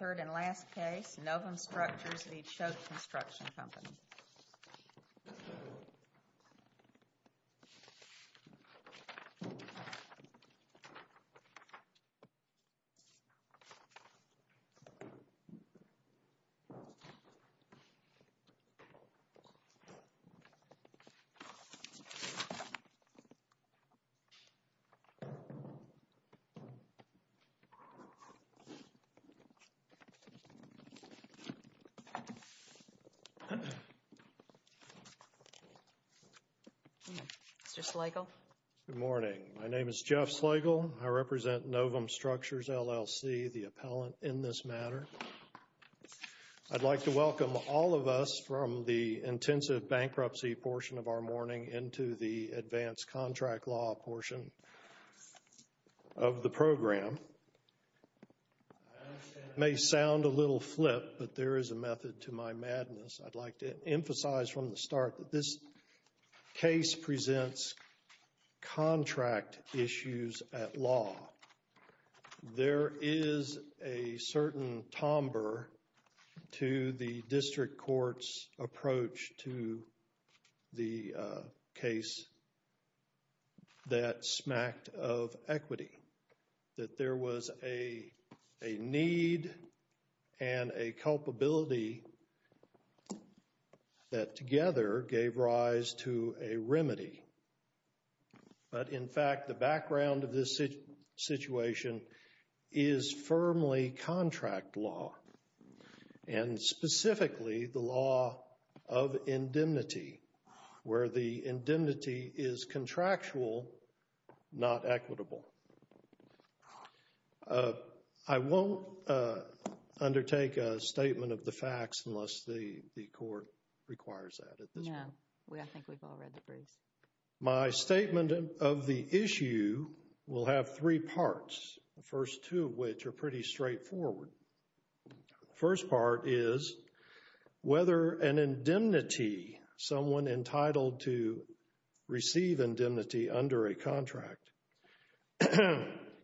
3rd and last case, Novum Structures, LLC Novum Structures, LLC Good morning. My name is Jeff Slegel. I represent Novum Structures, LLC, the appellant in this matter. I'd like to welcome all of us from the intensive bankruptcy portion of our morning into the advanced contract law portion of the program. It may sound a little flip, but there is a method to my madness. I'd like to emphasize from the start that this case presents contract issues at law. There is a certain timbre to the district court's approach to the case that smacked of equity, that there was a need and a culpability that together gave rise to a remedy. But in fact, the background of this situation is firmly contract law and specifically the law of indemnity, where the indemnity is contractual, not equitable. I won't undertake a statement of the facts unless the court requires that at this point. No, I think we've all read the briefs.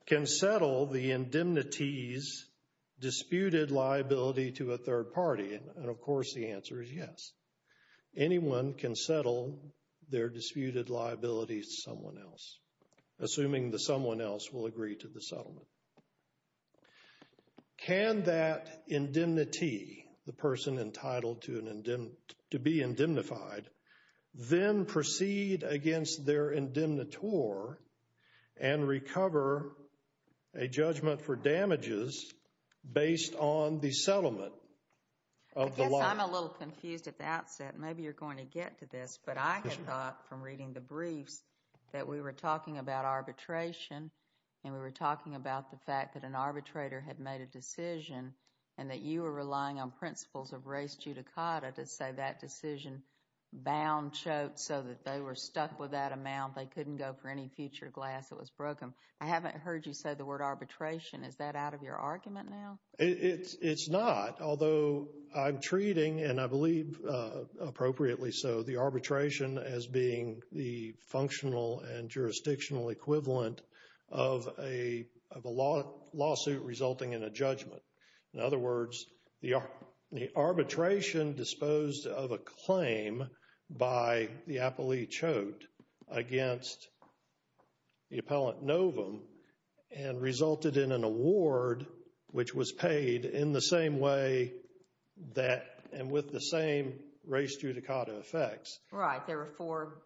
Can settle the indemnities disputed liability to a third party? And of course, the answer is yes. Anyone can settle their disputed liabilities to someone else, assuming that someone else will agree to the settlement. Can that indemnity, the person entitled to be indemnified, then proceed against their indemnitor and recover a judgment for damages based on the settlement of the law? I guess I'm a little confused at the outset. Maybe you're going to get to this, but I had thought from reading the briefs that we were talking about arbitration and we were talking about the fact that an arbitrator had made a decision and that you were relying on principles of race judicata to say that decision bound choked so that they were stuck with that amount. They couldn't go for any future glass that was broken. I haven't heard you say the word arbitration. Is that out of your argument now? It's not, although I'm treating, and I believe appropriately so, the arbitration as being the functional and jurisdictional equivalent of a lawsuit resulting in a judgment. In other words, the arbitration disposed of a claim by the appellee choked against the appellant novum and resulted in an award which was paid in the same way that and with the same race judicata effects. Right. There were four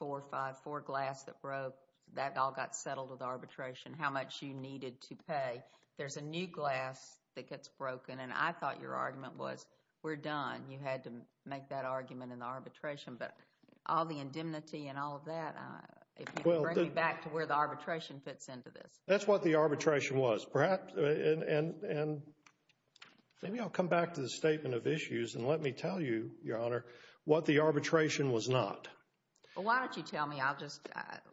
or five, four glass that broke. That all got settled with arbitration, how much you needed to pay. There's a new glass that gets broken, and I thought your argument was we're done. You had to make that argument in the arbitration, but all the indemnity and all of that, if you can bring me back to where the arbitration fits into this. That's what the arbitration was. Perhaps, and maybe I'll come back to the statement of issues and let me tell you, Your Honor, what the arbitration was not. Well, why don't you tell me? I'll just,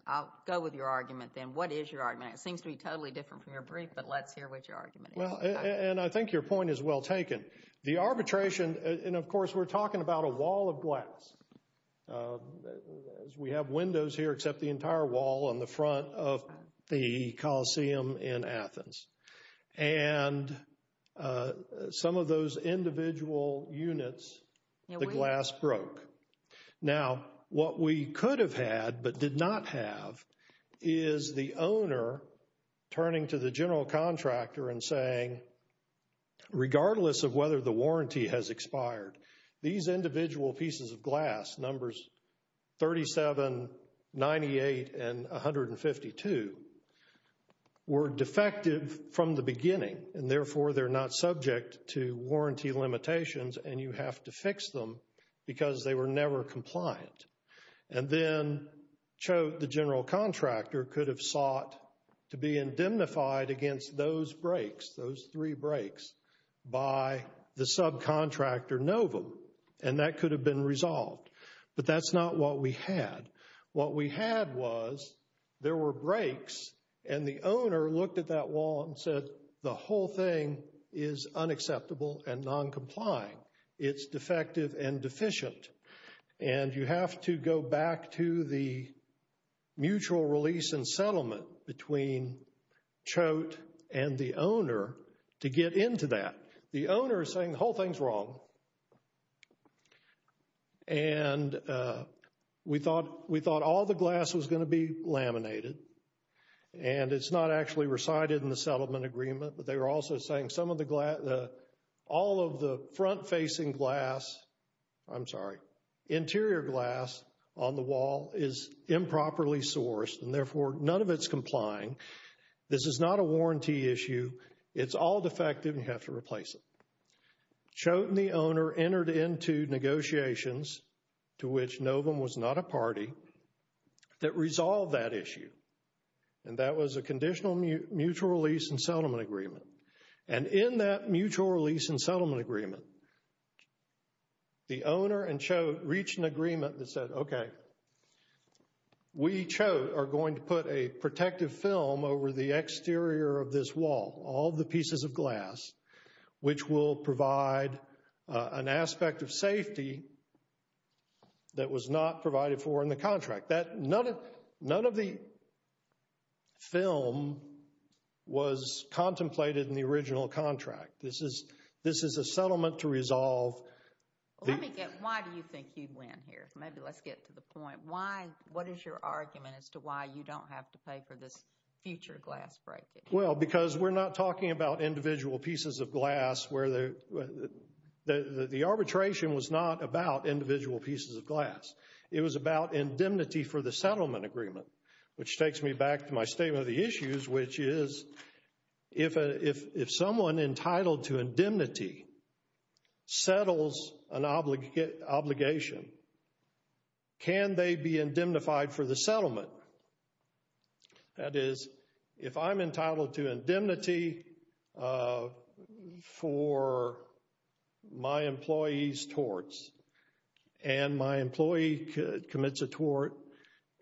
I'll go with your argument then. What is your argument? It seems to be totally different from your brief, but let's hear what your argument is. Well, and I think your point is well taken. The arbitration, and of course, we're talking about a wall of glass. We have windows here except the entire wall on the front of the Coliseum in Athens. And some of those individual units, the glass broke. Now, what we could have had but did not have is the owner turning to the general contractor and saying, regardless of whether the warranty has expired, these individual pieces of glass, numbers 37, 98, and 152, were defective from the beginning. And therefore, they're not subject to warranty limitations and you have to fix them because they were never compliant. And then the general contractor could have sought to be indemnified against those breaks, those three breaks, by the subcontractor Novum. And that could have been resolved. But that's not what we had. What we had was there were breaks and the owner looked at that wall and said, the whole thing is unacceptable and non-compliant. It's defective and deficient. And you have to go back to the mutual release and settlement between Choate and the owner to get into that. The owner is saying the whole thing's wrong. And we thought all the glass was going to be laminated. And it's not actually recited in the settlement agreement. But they were also saying some of the glass, all of the front-facing glass, I'm sorry, interior glass on the wall is improperly sourced. And therefore, none of it's complying. This is not a warranty issue. It's all defective and you have to replace it. Choate and the owner entered into negotiations, to which Novum was not a party, that resolved that issue. And that was a conditional mutual release and settlement agreement. And in that mutual release and settlement agreement, the owner and Choate reached an agreement that said, okay, we, Choate, are going to put a protective film over the exterior of this wall, all the pieces of glass, which will provide an aspect of safety that was not provided for in the contract. None of the film was contemplated in the original contract. This is a settlement to resolve. Let me get, why do you think you'd win here? Maybe let's get to the point. Why, what is your argument as to why you don't have to pay for this future glass breaking? Well, because we're not talking about individual pieces of glass where the arbitration was not about individual pieces of glass. It was about indemnity for the settlement agreement, which takes me back to my statement of the issues, which is if someone entitled to indemnity settles an obligation, can they be indemnified for the settlement? That is, if I'm entitled to indemnity for my employee's torts, and my employee commits a tort,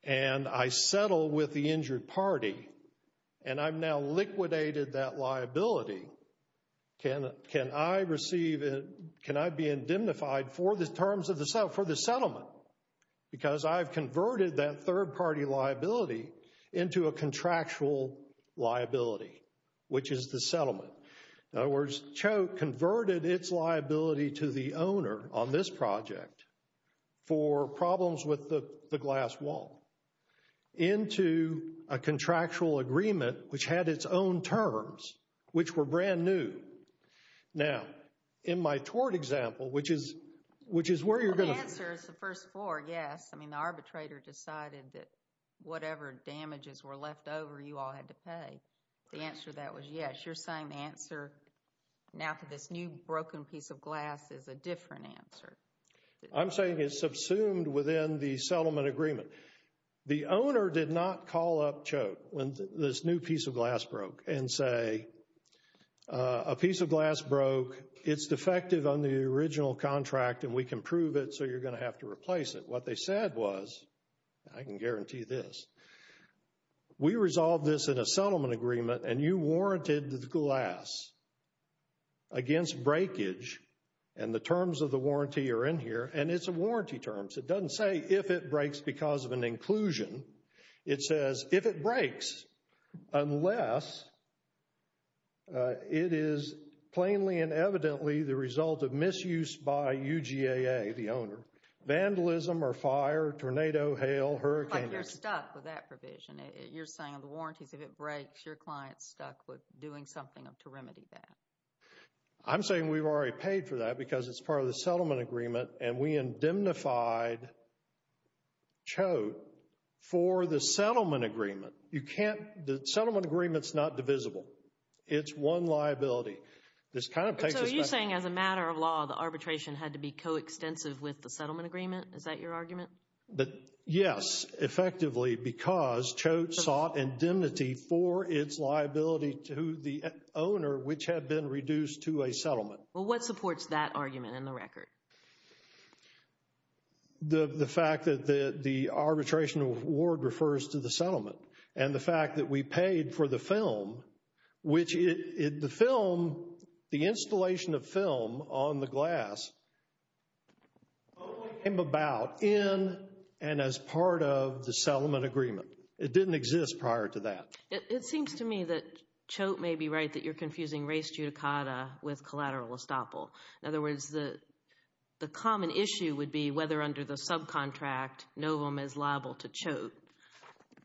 and I settle with the injured party, and I've now liquidated that liability, can I receive, can I be indemnified for the terms of the settlement? Because I've converted that third-party liability into a contractual liability, which is the settlement. In other words, Choate converted its liability to the owner on this project for problems with the glass wall into a contractual agreement, which had its own terms, which were brand new. Now, in my tort example, which is where you're going to— The answer is the first four, yes. I mean, the arbitrator decided that whatever damages were left over, you all had to pay. The answer to that was yes. You're saying the answer now to this new broken piece of glass is a different answer. I'm saying it's subsumed within the settlement agreement. The owner did not call up Choate when this new piece of glass broke and say, a piece of glass broke, it's defective under the original contract, and we can prove it, so you're going to have to replace it. What they said was, I can guarantee this, we resolved this in a settlement agreement, and you warranted the glass against breakage, and the terms of the warranty are in here, and it's a warranty term, so it doesn't say if it breaks because of an inclusion. It says if it breaks, unless it is plainly and evidently the result of misuse by UGAA, the owner, vandalism or fire, tornado, hail, hurricane— Like you're stuck with that provision. You're saying on the warranties, if it breaks, your client's stuck with doing something to remedy that. I'm saying we've already paid for that because it's part of the settlement agreement, and we indemnified Choate for the settlement agreement. You can't—the settlement agreement's not divisible. It's one liability. This kind of takes us back— So are you saying as a matter of law, the arbitration had to be coextensive with the settlement agreement? Is that your argument? Yes, effectively, because Choate sought indemnity for its liability to the owner, which had been reduced to a settlement. Well, what supports that argument in the record? The fact that the arbitration award refers to the settlement, and the fact that we paid for the film, which the installation of film on the glass only came about in and as part of the settlement agreement. It didn't exist prior to that. It seems to me that Choate may be right that you're confusing res judicata with collateral estoppel. In other words, the common issue would be whether under the subcontract, Novum is liable to Choate.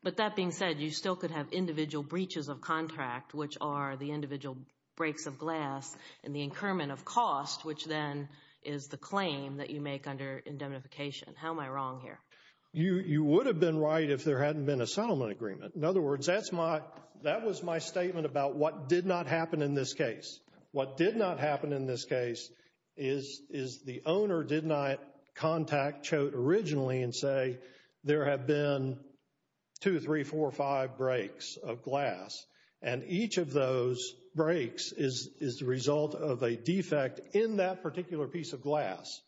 But that being said, you still could have individual breaches of contract, which are the individual breaks of glass, and the incurment of cost, which then is the claim that you make under indemnification. How am I wrong here? You would have been right if there hadn't been a settlement agreement. In other words, that was my statement about what did not happen in this case. What did not happen in this case is the owner did not contact Choate originally and say, there have been two, three, four, five breaks of glass. And each of those breaks is the result of a defect in that particular piece of glass.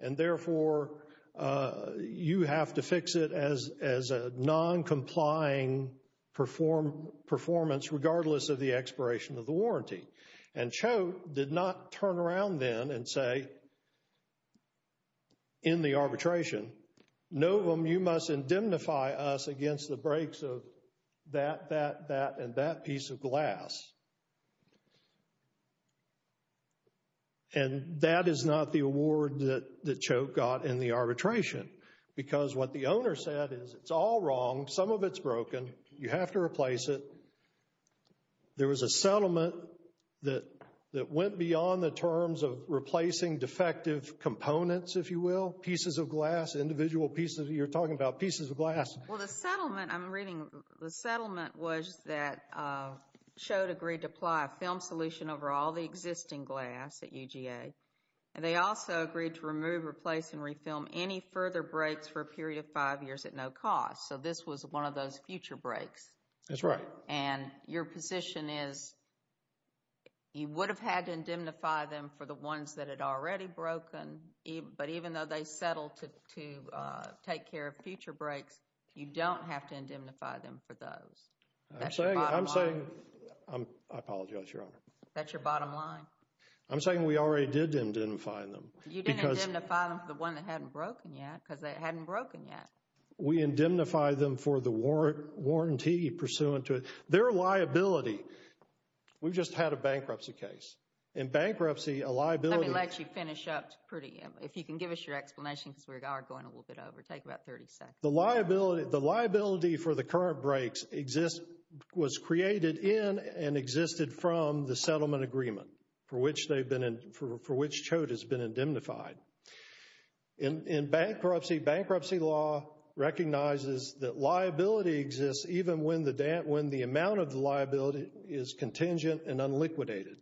And therefore, you have to fix it as a non-complying performance regardless of the expiration of the warranty. And Choate did not turn around then and say, in the arbitration, Novum, you must indemnify us against the breaks of that, that, that, and that piece of glass. And that is not the award that Choate got in the arbitration. Because what the owner said is, it's all wrong. Some of it's broken. You have to replace it. There was a settlement that went beyond the terms of replacing defective components, if you will, pieces of glass, individual pieces. You're talking about pieces of glass. Well, the settlement I'm reading, the settlement was that Choate agreed to apply a film solution over all the existing glass at UGA. And they also agreed to remove, replace, and refilm any further breaks for a period of five years at no cost. So this was one of those future breaks. That's right. And your position is, you would have had to indemnify them for the ones that had already broken. But even though they settled to take care of future breaks, you don't have to indemnify them for those. I'm saying, I'm saying, I apologize, Your Honor. That's your bottom line. I'm saying we already did indemnify them. You didn't indemnify them for the ones that hadn't broken yet, because they hadn't broken yet. We indemnify them for the warranty pursuant to their liability. We've just had a bankruptcy case. In bankruptcy, a liability... Let me let you finish up, if you can give us your explanation, because we are going a little bit over. Take about 30 seconds. The liability for the current breaks was created in and existed from the settlement agreement for which Choate has been indemnified. In bankruptcy, bankruptcy law recognizes that liability exists even when the amount of the liability is contingent and unliquidated.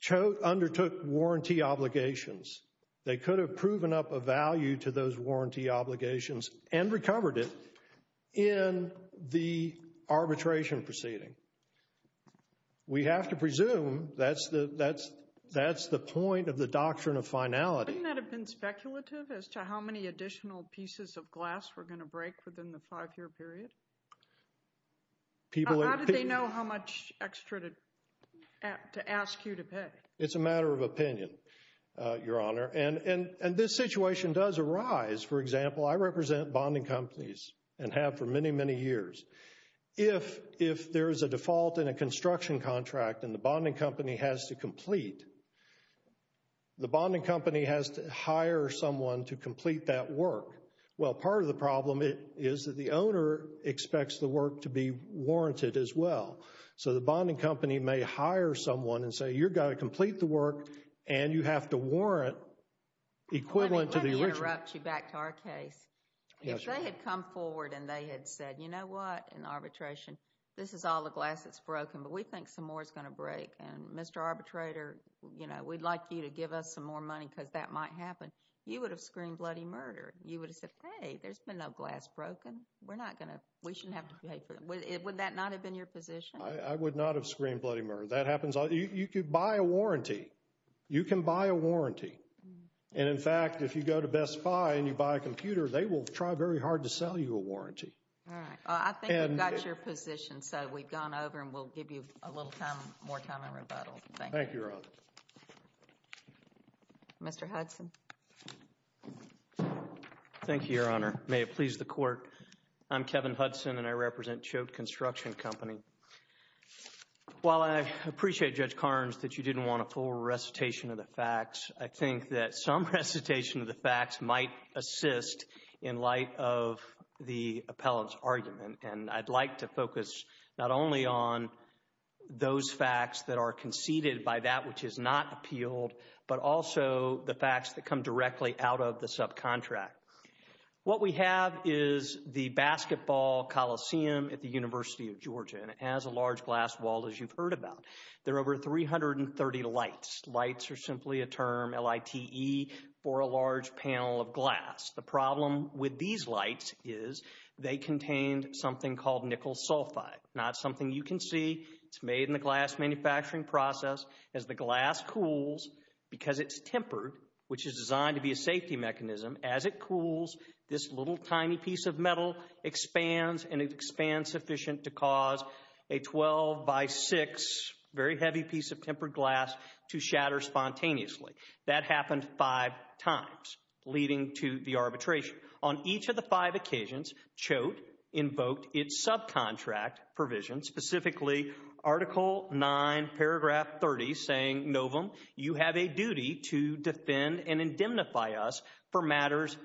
Choate undertook warranty obligations. They could have proven up a value to those warranty obligations and recovered it in the arbitration proceeding. We have to presume that's the point of the doctrine of finality. Wouldn't that have been speculative as to how many additional pieces of glass were going to break within the five-year period? How did they know how much extra to ask you to pay? It's a matter of opinion, Your Honor, and this situation does arise. For example, I represent bonding companies and have for many, many years. If there is a default in a construction contract and the bonding company has to complete, the bonding company has to hire someone to complete that work. Well, part of the problem is that the owner expects the work to be warranted as well. So the bonding company may hire someone and say, you've got to complete the work and you have to warrant equivalent to the original. Let me interrupt you back to our case. If they had come forward and they had said, you know what, in arbitration, this is all the glass that's broken, but we think some more is going to break, and Mr. Arbitrator, you know, we'd like you to give us some more money because that might happen, you would have screamed bloody murder. You would have said, hey, there's been no glass broken. We're not going to, we shouldn't have to pay for it. Would that not have been your position? I would not have screamed bloody murder. That happens all the time. You could buy a warranty. You can buy a warranty. And, in fact, if you go to Best Buy and you buy a computer, they will try very hard to sell you a warranty. All right. I think we've got your position, so we've gone over and we'll give you a little more time in rebuttal. Thank you. Mr. Hudson. Thank you, Your Honor. May it please the Court. I'm Kevin Hudson, and I represent Choate Construction Company. While I appreciate, Judge Carnes, that you didn't want a full recitation of the facts, I think that some recitation of the facts might assist in light of the appellant's argument, and I'd like to focus not only on those facts that are conceded by that which is not appealed, but also the facts that come directly out of the subcontract. What we have is the basketball coliseum at the University of Georgia, and it has a large glass wall, as you've heard about. There are over 330 lights. Lights are simply a term, L-I-T-E, for a large panel of glass. The problem with these lights is they contain something called nickel sulfide. Now, it's something you can see. It's made in the glass manufacturing process. As the glass cools, because it's tempered, which is designed to be a safety mechanism, as it cools, this little tiny piece of metal expands, and it expands sufficient to cause a 12-by-6 very heavy piece of tempered glass to shatter spontaneously. That happened five times, leading to the arbitration. On each of the five occasions, Choate invoked its subcontract provision, specifically Article 9, Paragraph 30, saying, Novum, you have a duty to defend and indemnify us for matters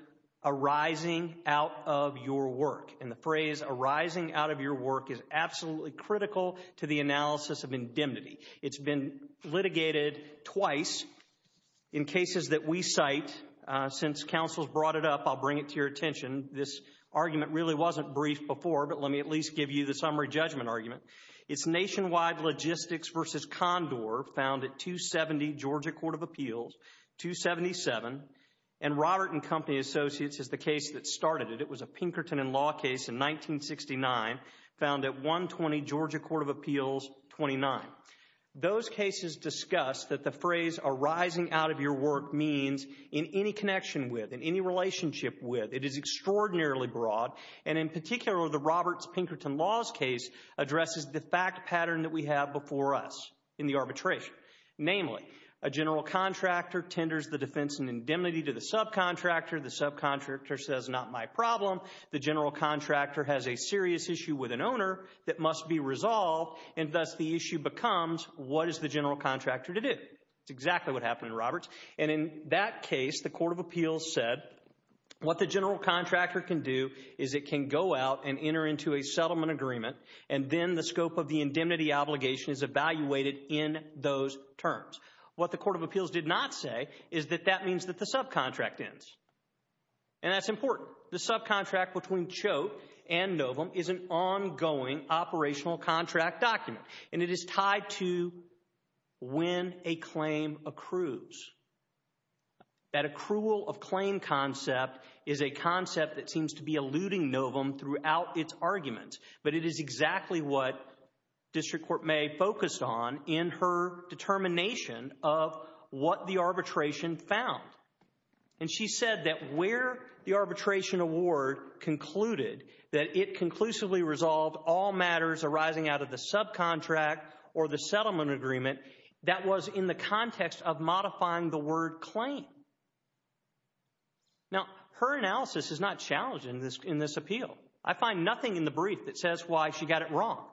arising out of your work. And the phrase arising out of your work is absolutely critical to the analysis of indemnity. It's been litigated twice in cases that we cite. Since counsel's brought it up, I'll bring it to your attention. This argument really wasn't brief before, but let me at least give you the summary judgment argument. It's Nationwide Logistics v. Condor, found at 270 Georgia Court of Appeals, 277. And Robert and Company Associates is the case that started it. It was a Pinkerton and Law case in 1969, found at 120 Georgia Court of Appeals, 29. Those cases discuss that the phrase arising out of your work means in any connection with, in any relationship with, it is extraordinarily broad. And in particular, the Roberts-Pinkerton Laws case addresses the fact pattern that we have before us in the arbitration. Namely, a general contractor tenders the defense and indemnity to the subcontractor. The subcontractor says, not my problem. The general contractor has a serious issue with an owner that must be resolved, and thus the issue becomes, what is the general contractor to do? That's exactly what happened in Roberts. And in that case, the Court of Appeals said what the general contractor can do is it can go out and enter into a settlement agreement, and then the scope of the indemnity obligation is evaluated in those terms. What the Court of Appeals did not say is that that means that the subcontract ends. And that's important. The subcontract between Choate and Novum is an ongoing operational contract document, and it is tied to when a claim accrues. That accrual of claim concept is a concept that seems to be eluding Novum throughout its argument, but it is exactly what District Court May focused on in her determination of what the arbitration found. And she said that where the arbitration award concluded that it conclusively resolved all matters arising out of the subcontract or the settlement agreement, that was in the context of modifying the word claim. Now, her analysis is not challenged in this appeal. I find nothing in the brief that says why she got it wrong.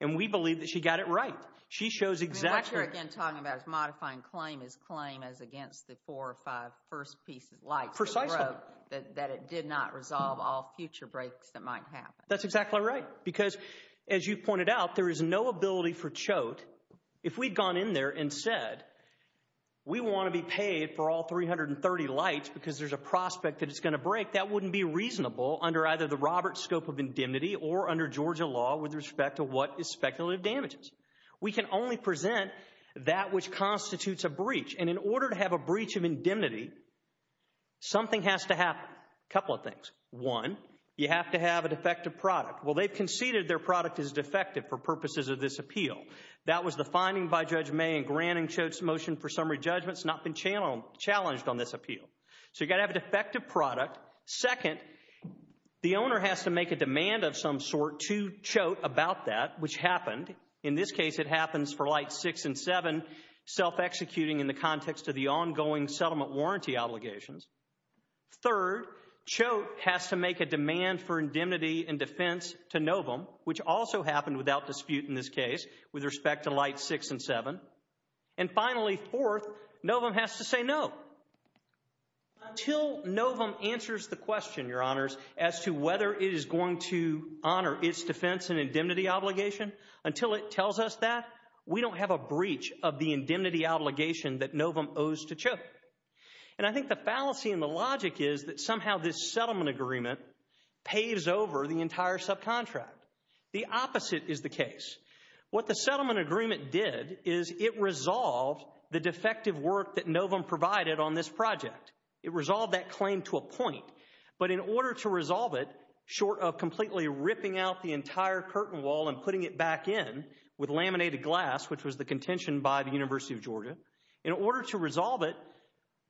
And we believe that she got it right. She shows exactly— What you're, again, talking about is modifying claim is claim as against the four or five first pieces, like that it did not resolve all future breaks that might happen. That's exactly right because, as you pointed out, there is no ability for Choate, if we'd gone in there and said we want to be paid for all 330 lights because there's a prospect that it's going to break, that wouldn't be reasonable under either the Roberts scope of indemnity or under Georgia law with respect to what is speculative damages. We can only present that which constitutes a breach. And in order to have a breach of indemnity, something has to happen. A couple of things. One, you have to have a defective product. Well, they've conceded their product is defective for purposes of this appeal. That was the finding by Judge May in granting Choate's motion for summary judgment. It's not been challenged on this appeal. So you've got to have a defective product. Second, the owner has to make a demand of some sort to Choate about that, which happened. In this case, it happens for lights six and seven, self-executing in the context of the ongoing settlement warranty obligations. Third, Choate has to make a demand for indemnity and defense to Novum, which also happened without dispute in this case with respect to lights six and seven. And finally, fourth, Novum has to say no. Until Novum answers the question, Your Honors, as to whether it is going to honor its defense and indemnity obligation, until it tells us that, we don't have a breach of the indemnity obligation that Novum owes to Choate. And I think the fallacy and the logic is that somehow this settlement agreement paves over the entire subcontract. The opposite is the case. What the settlement agreement did is it resolved the defective work that Novum provided on this project. It resolved that claim to a point. But in order to resolve it, short of completely ripping out the entire curtain wall and putting it back in with laminated glass, which was the contention by the University of Georgia, in order to resolve it,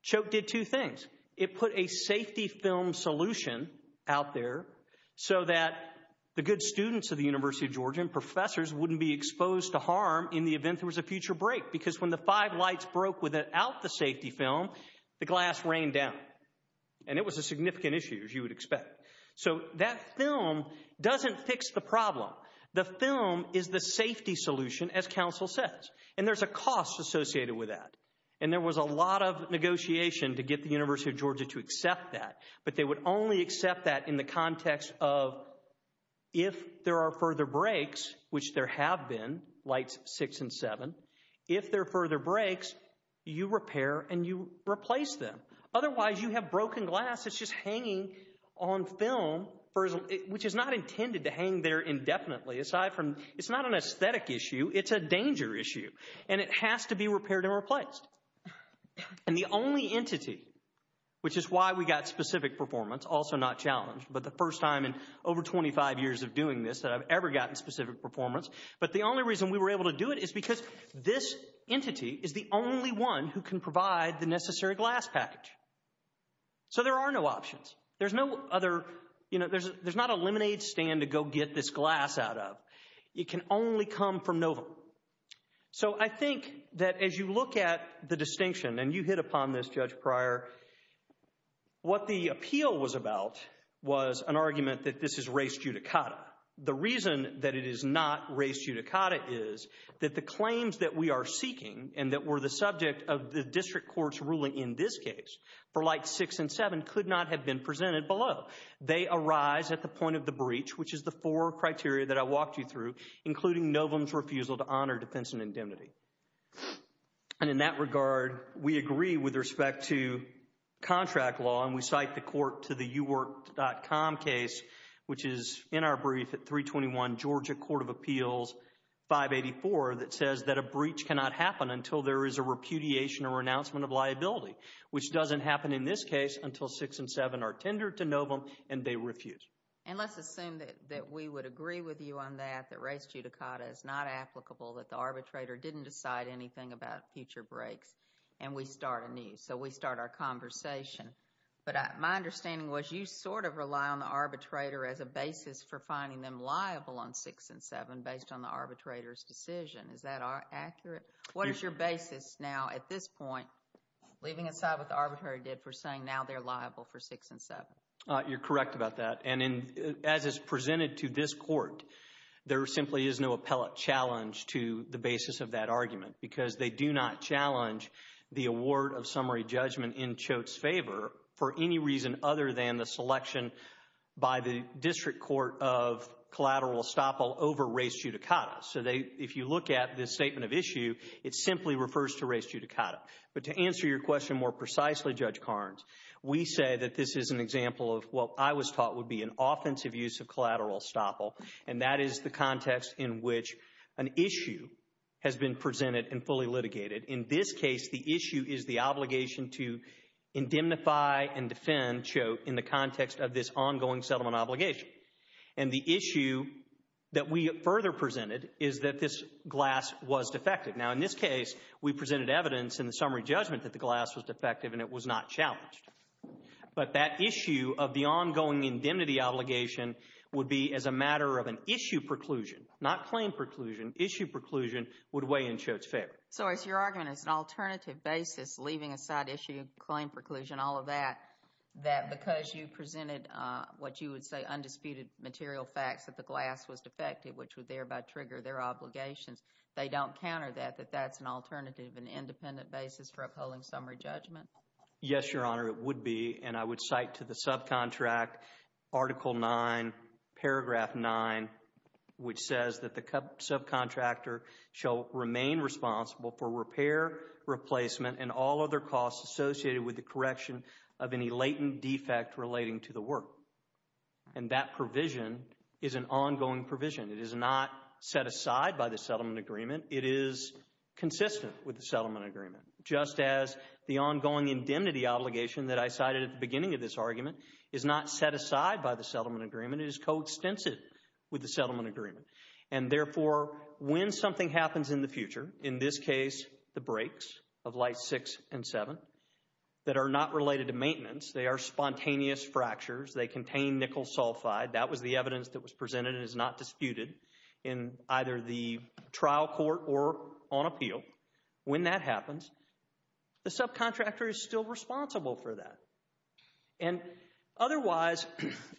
Choate did two things. It put a safety film solution out there so that the good students of the University of Georgia and professors wouldn't be exposed to harm in the event there was a future break. Because when the five lights broke without the safety film, the glass rained down. And it was a significant issue, as you would expect. So that film doesn't fix the problem. The film is the safety solution, as counsel says. And there's a cost associated with that. And there was a lot of negotiation to get the University of Georgia to accept that. But they would only accept that in the context of if there are further breaks, which there have been, lights six and seven, if there are further breaks, you repair and you replace them. Otherwise, you have broken glass that's just hanging on film, which is not intended to hang there indefinitely. Aside from it's not an aesthetic issue, it's a danger issue. And it has to be repaired and replaced. And the only entity, which is why we got specific performance, also not challenged, but the first time in over 25 years of doing this that I've ever gotten specific performance. But the only reason we were able to do it is because this entity is the only one who can provide the necessary glass package. So there are no options. There's no other, you know, there's not a lemonade stand to go get this glass out of. It can only come from NOVA. So I think that as you look at the distinction, and you hit upon this, Judge Pryor, what the appeal was about was an argument that this is res judicata. The reason that it is not res judicata is that the claims that we are seeking and that were the subject of the district court's ruling in this case, for lights 6 and 7, could not have been presented below. They arise at the point of the breach, which is the four criteria that I walked you through, including Novum's refusal to honor defense and indemnity. And in that regard, we agree with respect to contract law, and we cite the court to the uwork.com case, which is in our brief at 321 Georgia Court of Appeals 584, that says that a breach cannot happen until there is a repudiation or renouncement of liability, which doesn't happen in this case until 6 and 7 are tendered to Novum and they refuse. And let's assume that we would agree with you on that, that res judicata is not applicable, that the arbitrator didn't decide anything about future breaks, and we start anew. So we start our conversation. But my understanding was you sort of rely on the arbitrator as a basis for finding them liable on 6 and 7 based on the arbitrator's decision. Is that accurate? What is your basis now at this point, leaving aside what the arbitrary did for saying now they're liable for 6 and 7? You're correct about that. And as is presented to this court, there simply is no appellate challenge to the basis of that argument because they do not challenge the award of summary judgment in Choate's favor for any reason other than the selection by the district court of collateral estoppel over res judicata. So if you look at this statement of issue, it simply refers to res judicata. But to answer your question more precisely, Judge Carnes, we say that this is an example of what I was taught would be an offensive use of collateral estoppel, and that is the context in which an issue has been presented and fully litigated. In this case, the issue is the obligation to indemnify and defend Choate in the context of this ongoing settlement obligation. And the issue that we further presented is that this glass was defective. Now, in this case, we presented evidence in the summary judgment that the glass was defective and it was not challenged. But that issue of the ongoing indemnity obligation would be as a matter of an issue preclusion, not claim preclusion. Issue preclusion would weigh in Choate's favor. So is your argument as an alternative basis, leaving aside issue claim preclusion, all of that, that because you presented what you would say undisputed material facts that the glass was defective, which would thereby trigger their obligations, they don't counter that, that that's an alternative and independent basis for upholding summary judgment? Yes, Your Honor, it would be, and I would cite to the subcontract Article 9, Paragraph 9, which says that the subcontractor shall remain responsible for repair, replacement, and all other costs associated with the correction of any latent defect relating to the work. And that provision is an ongoing provision. It is not set aside by the settlement agreement. It is consistent with the settlement agreement, just as the ongoing indemnity obligation that I cited at the beginning of this argument is not set aside by the settlement agreement. It is coextensive with the settlement agreement. And therefore, when something happens in the future, in this case the breaks of Light 6 and 7, that are not related to maintenance, they are spontaneous fractures, they contain nickel sulfide, that was the evidence that was presented and is not disputed in either the trial court or on appeal, when that happens, the subcontractor is still responsible for that. And otherwise,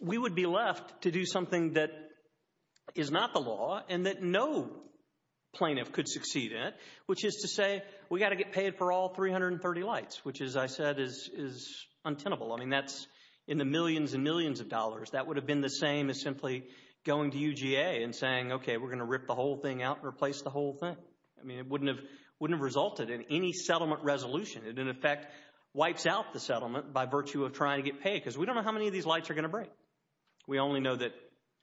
we would be left to do something that is not the law and that no plaintiff could succeed in, which is to say, we've got to get paid for all 330 lights, which as I said is untenable. I mean, that's in the millions and millions of dollars. That would have been the same as simply going to UGA and saying, okay, we're going to rip the whole thing out and replace the whole thing. I mean, it wouldn't have resulted in any settlement resolution. It, in effect, wipes out the settlement by virtue of trying to get paid because we don't know how many of these lights are going to break. We only know that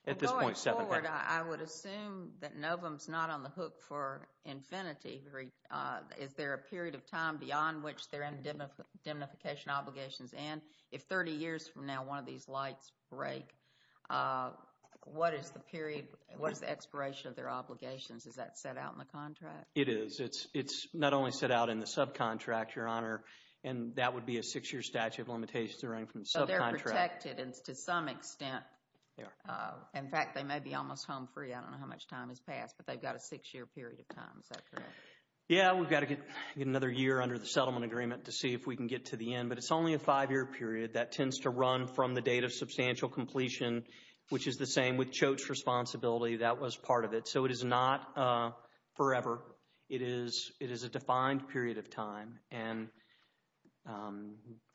at this point 7,000. Going forward, I would assume that Novum is not on the hook for infinity. Is there a period of time beyond which there are indemnification obligations? And if 30 years from now one of these lights break, what is the period, what is the expiration of their obligations? Is that set out in the contract? It is. It's not only set out in the subcontract, Your Honor, and that would be a six-year statute of limitations to run from the subcontract. So they're protected to some extent. In fact, they may be almost home free. I don't know how much time has passed, but they've got a six-year period of time. Is that correct? Yeah, we've got to get another year under the settlement agreement to see if we can get to the end, but it's only a five-year period that tends to run from the date of substantial completion, which is the same with Choate's responsibility. That was part of it. So it is not forever. It is a defined period of time. And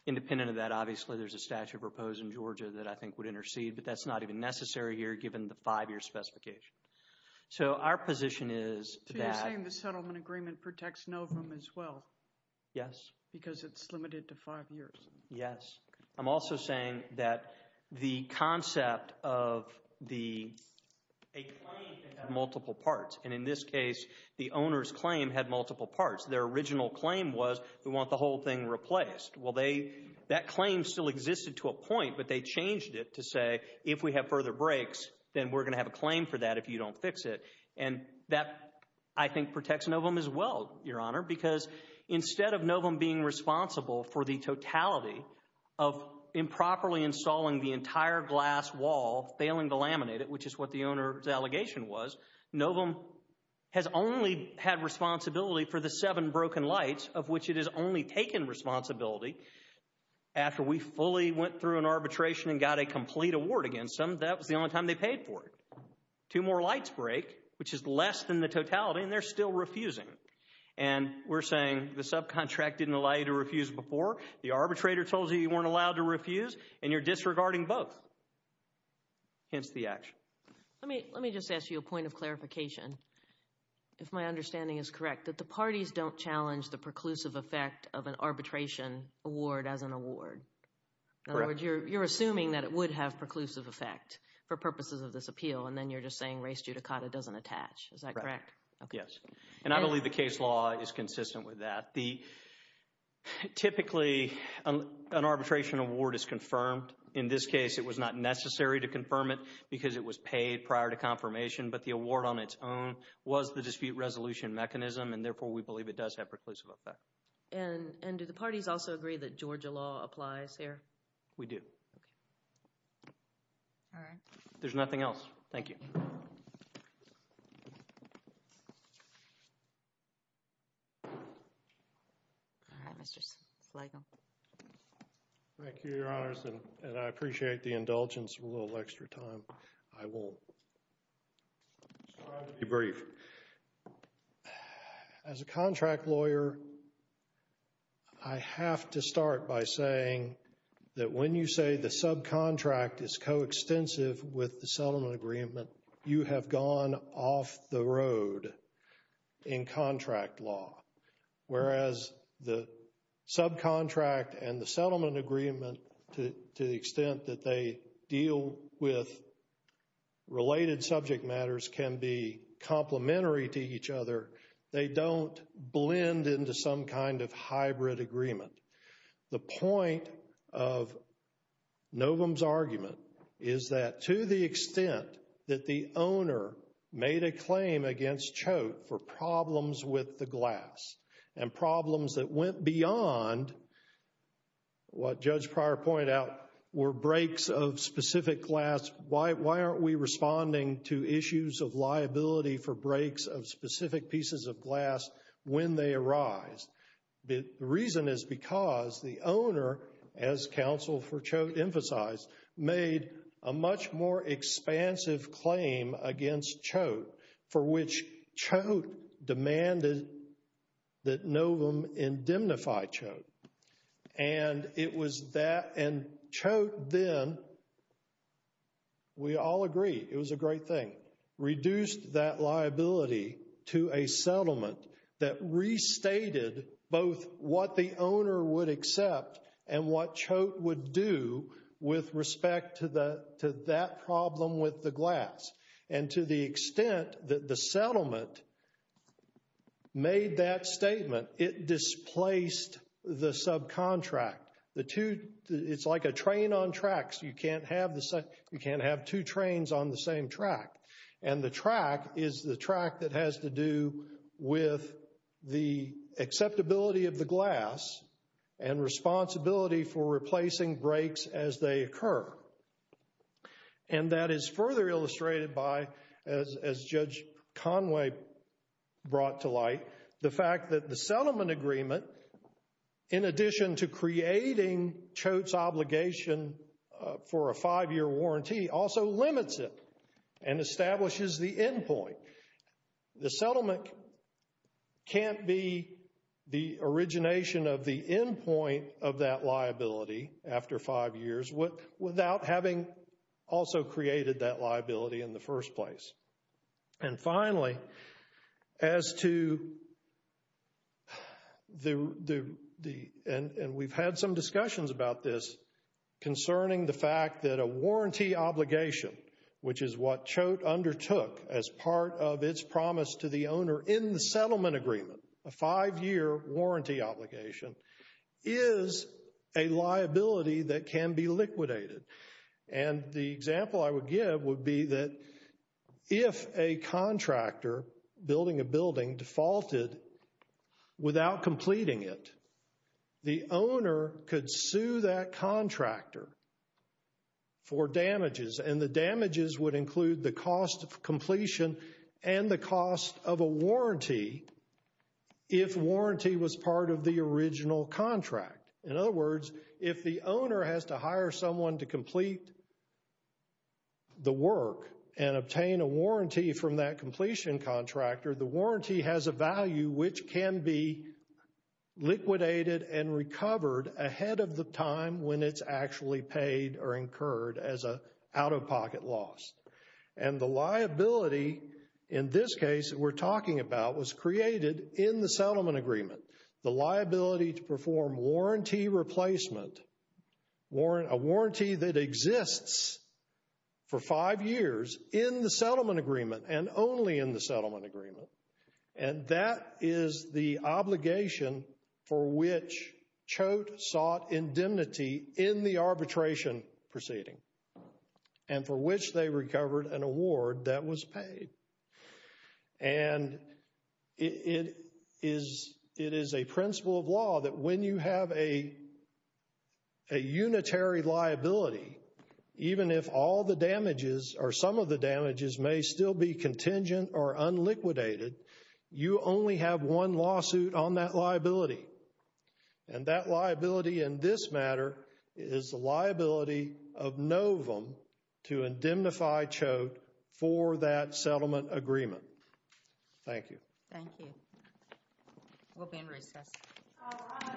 independent of that, obviously, there's a statute proposed in Georgia that I think would intercede, but that's not even necessary here given the five-year specification. So our position is that— So you're saying the settlement agreement protects Novum as well? Yes. Because it's limited to five years? Yes. I'm also saying that the concept of a claim that had multiple parts, and in this case the owner's claim had multiple parts. Their original claim was we want the whole thing replaced. Well, that claim still existed to a point, but they changed it to say if we have further breaks, then we're going to have a claim for that if you don't fix it. And that, I think, protects Novum as well, Your Honor, because instead of Novum being responsible for the totality of improperly installing the entire glass wall, failing to laminate it, which is what the owner's allegation was, Novum has only had responsibility for the seven broken lights, of which it has only taken responsibility. After we fully went through an arbitration and got a complete award against them, that was the only time they paid for it. Two more lights break, which is less than the totality, and they're still refusing. And we're saying the subcontract didn't allow you to refuse before, the arbitrator told you you weren't allowed to refuse, and you're disregarding both. Hence the action. Let me just ask you a point of clarification, if my understanding is correct, that the parties don't challenge the preclusive effect of an arbitration award as an award. In other words, you're assuming that it would have preclusive effect for purposes of this appeal, and then you're just saying race judicata doesn't attach. Is that correct? Yes. And I believe the case law is consistent with that. Typically, an arbitration award is confirmed. In this case, it was not necessary to confirm it because it was paid prior to confirmation, but the award on its own was the dispute resolution mechanism, and therefore we believe it does have preclusive effect. And do the parties also agree that Georgia law applies here? We do. There's nothing else. Thank you. All right, Mr. Sligo. Thank you, Your Honors, and I appreciate the indulgence of a little extra time. I will try to be brief. As a contract lawyer, I have to start by saying that when you say the subcontract is coextensive with the settlement agreement, you have gone off the road in contract law, whereas the subcontract and the settlement agreement, to the extent that they deal with related subject matters, can be complementary to each other. They don't blend into some kind of hybrid agreement. The point of Novum's argument is that to the extent that the owner made a claim against Choate for problems with the glass and problems that went beyond what Judge Pryor pointed out were breaks of specific glass, why aren't we responding to issues of liability for breaks of specific pieces of glass when they arise? The reason is because the owner, as counsel for Choate emphasized, made a much more expansive claim against Choate for which Choate demanded that Novum indemnify Choate. And it was that, and Choate then, we all agree, it was a great thing, reduced that liability to a settlement that restated both what the owner would accept and what Choate would do with respect to that problem with the glass. And to the extent that the settlement made that statement, it displaced the subcontract. It's like a train on tracks. You can't have two trains on the same track. And the track is the track that has to do with the acceptability of the glass and responsibility for replacing breaks as they occur. And that is further illustrated by, as Judge Conway brought to light, the fact that the settlement agreement, in addition to creating Choate's obligation for a five-year warranty, also limits it and establishes the endpoint. The settlement can't be the origination of the endpoint of that liability after five years without having also created that liability in the first place. And finally, as to the, and we've had some discussions about this, concerning the fact that a warranty obligation, which is what Choate undertook as part of its promise to the owner in the settlement agreement, a five-year warranty obligation, is a liability that can be liquidated. And the example I would give would be that if a contractor, building a building, defaulted without completing it, the owner could sue that contractor for damages. And the damages would include the cost of completion and the cost of a warranty if warranty was part of the original contract. In other words, if the owner has to hire someone to complete the work and obtain a warranty from that completion contractor, the warranty has a value which can be liquidated and recovered ahead of the time when it's actually paid or incurred as a out-of-pocket loss. And the liability in this case that we're talking about was created in the settlement agreement. The liability to perform warranty replacement, a warranty that exists for five years in the settlement agreement and only in the settlement agreement, and that is the obligation for which Choate sought indemnity in the arbitration proceeding and for which they recovered an award that was paid. And it is a principle of law that when you have a unitary liability, even if all the damages or some of the damages may still be contingent or unliquidated, you only have one lawsuit on that liability. And that liability in this matter is the liability of Novum to indemnify Choate for that settlement agreement. Thank you. Thank you. We'll be in recess. All rise. Thank you. Thank you.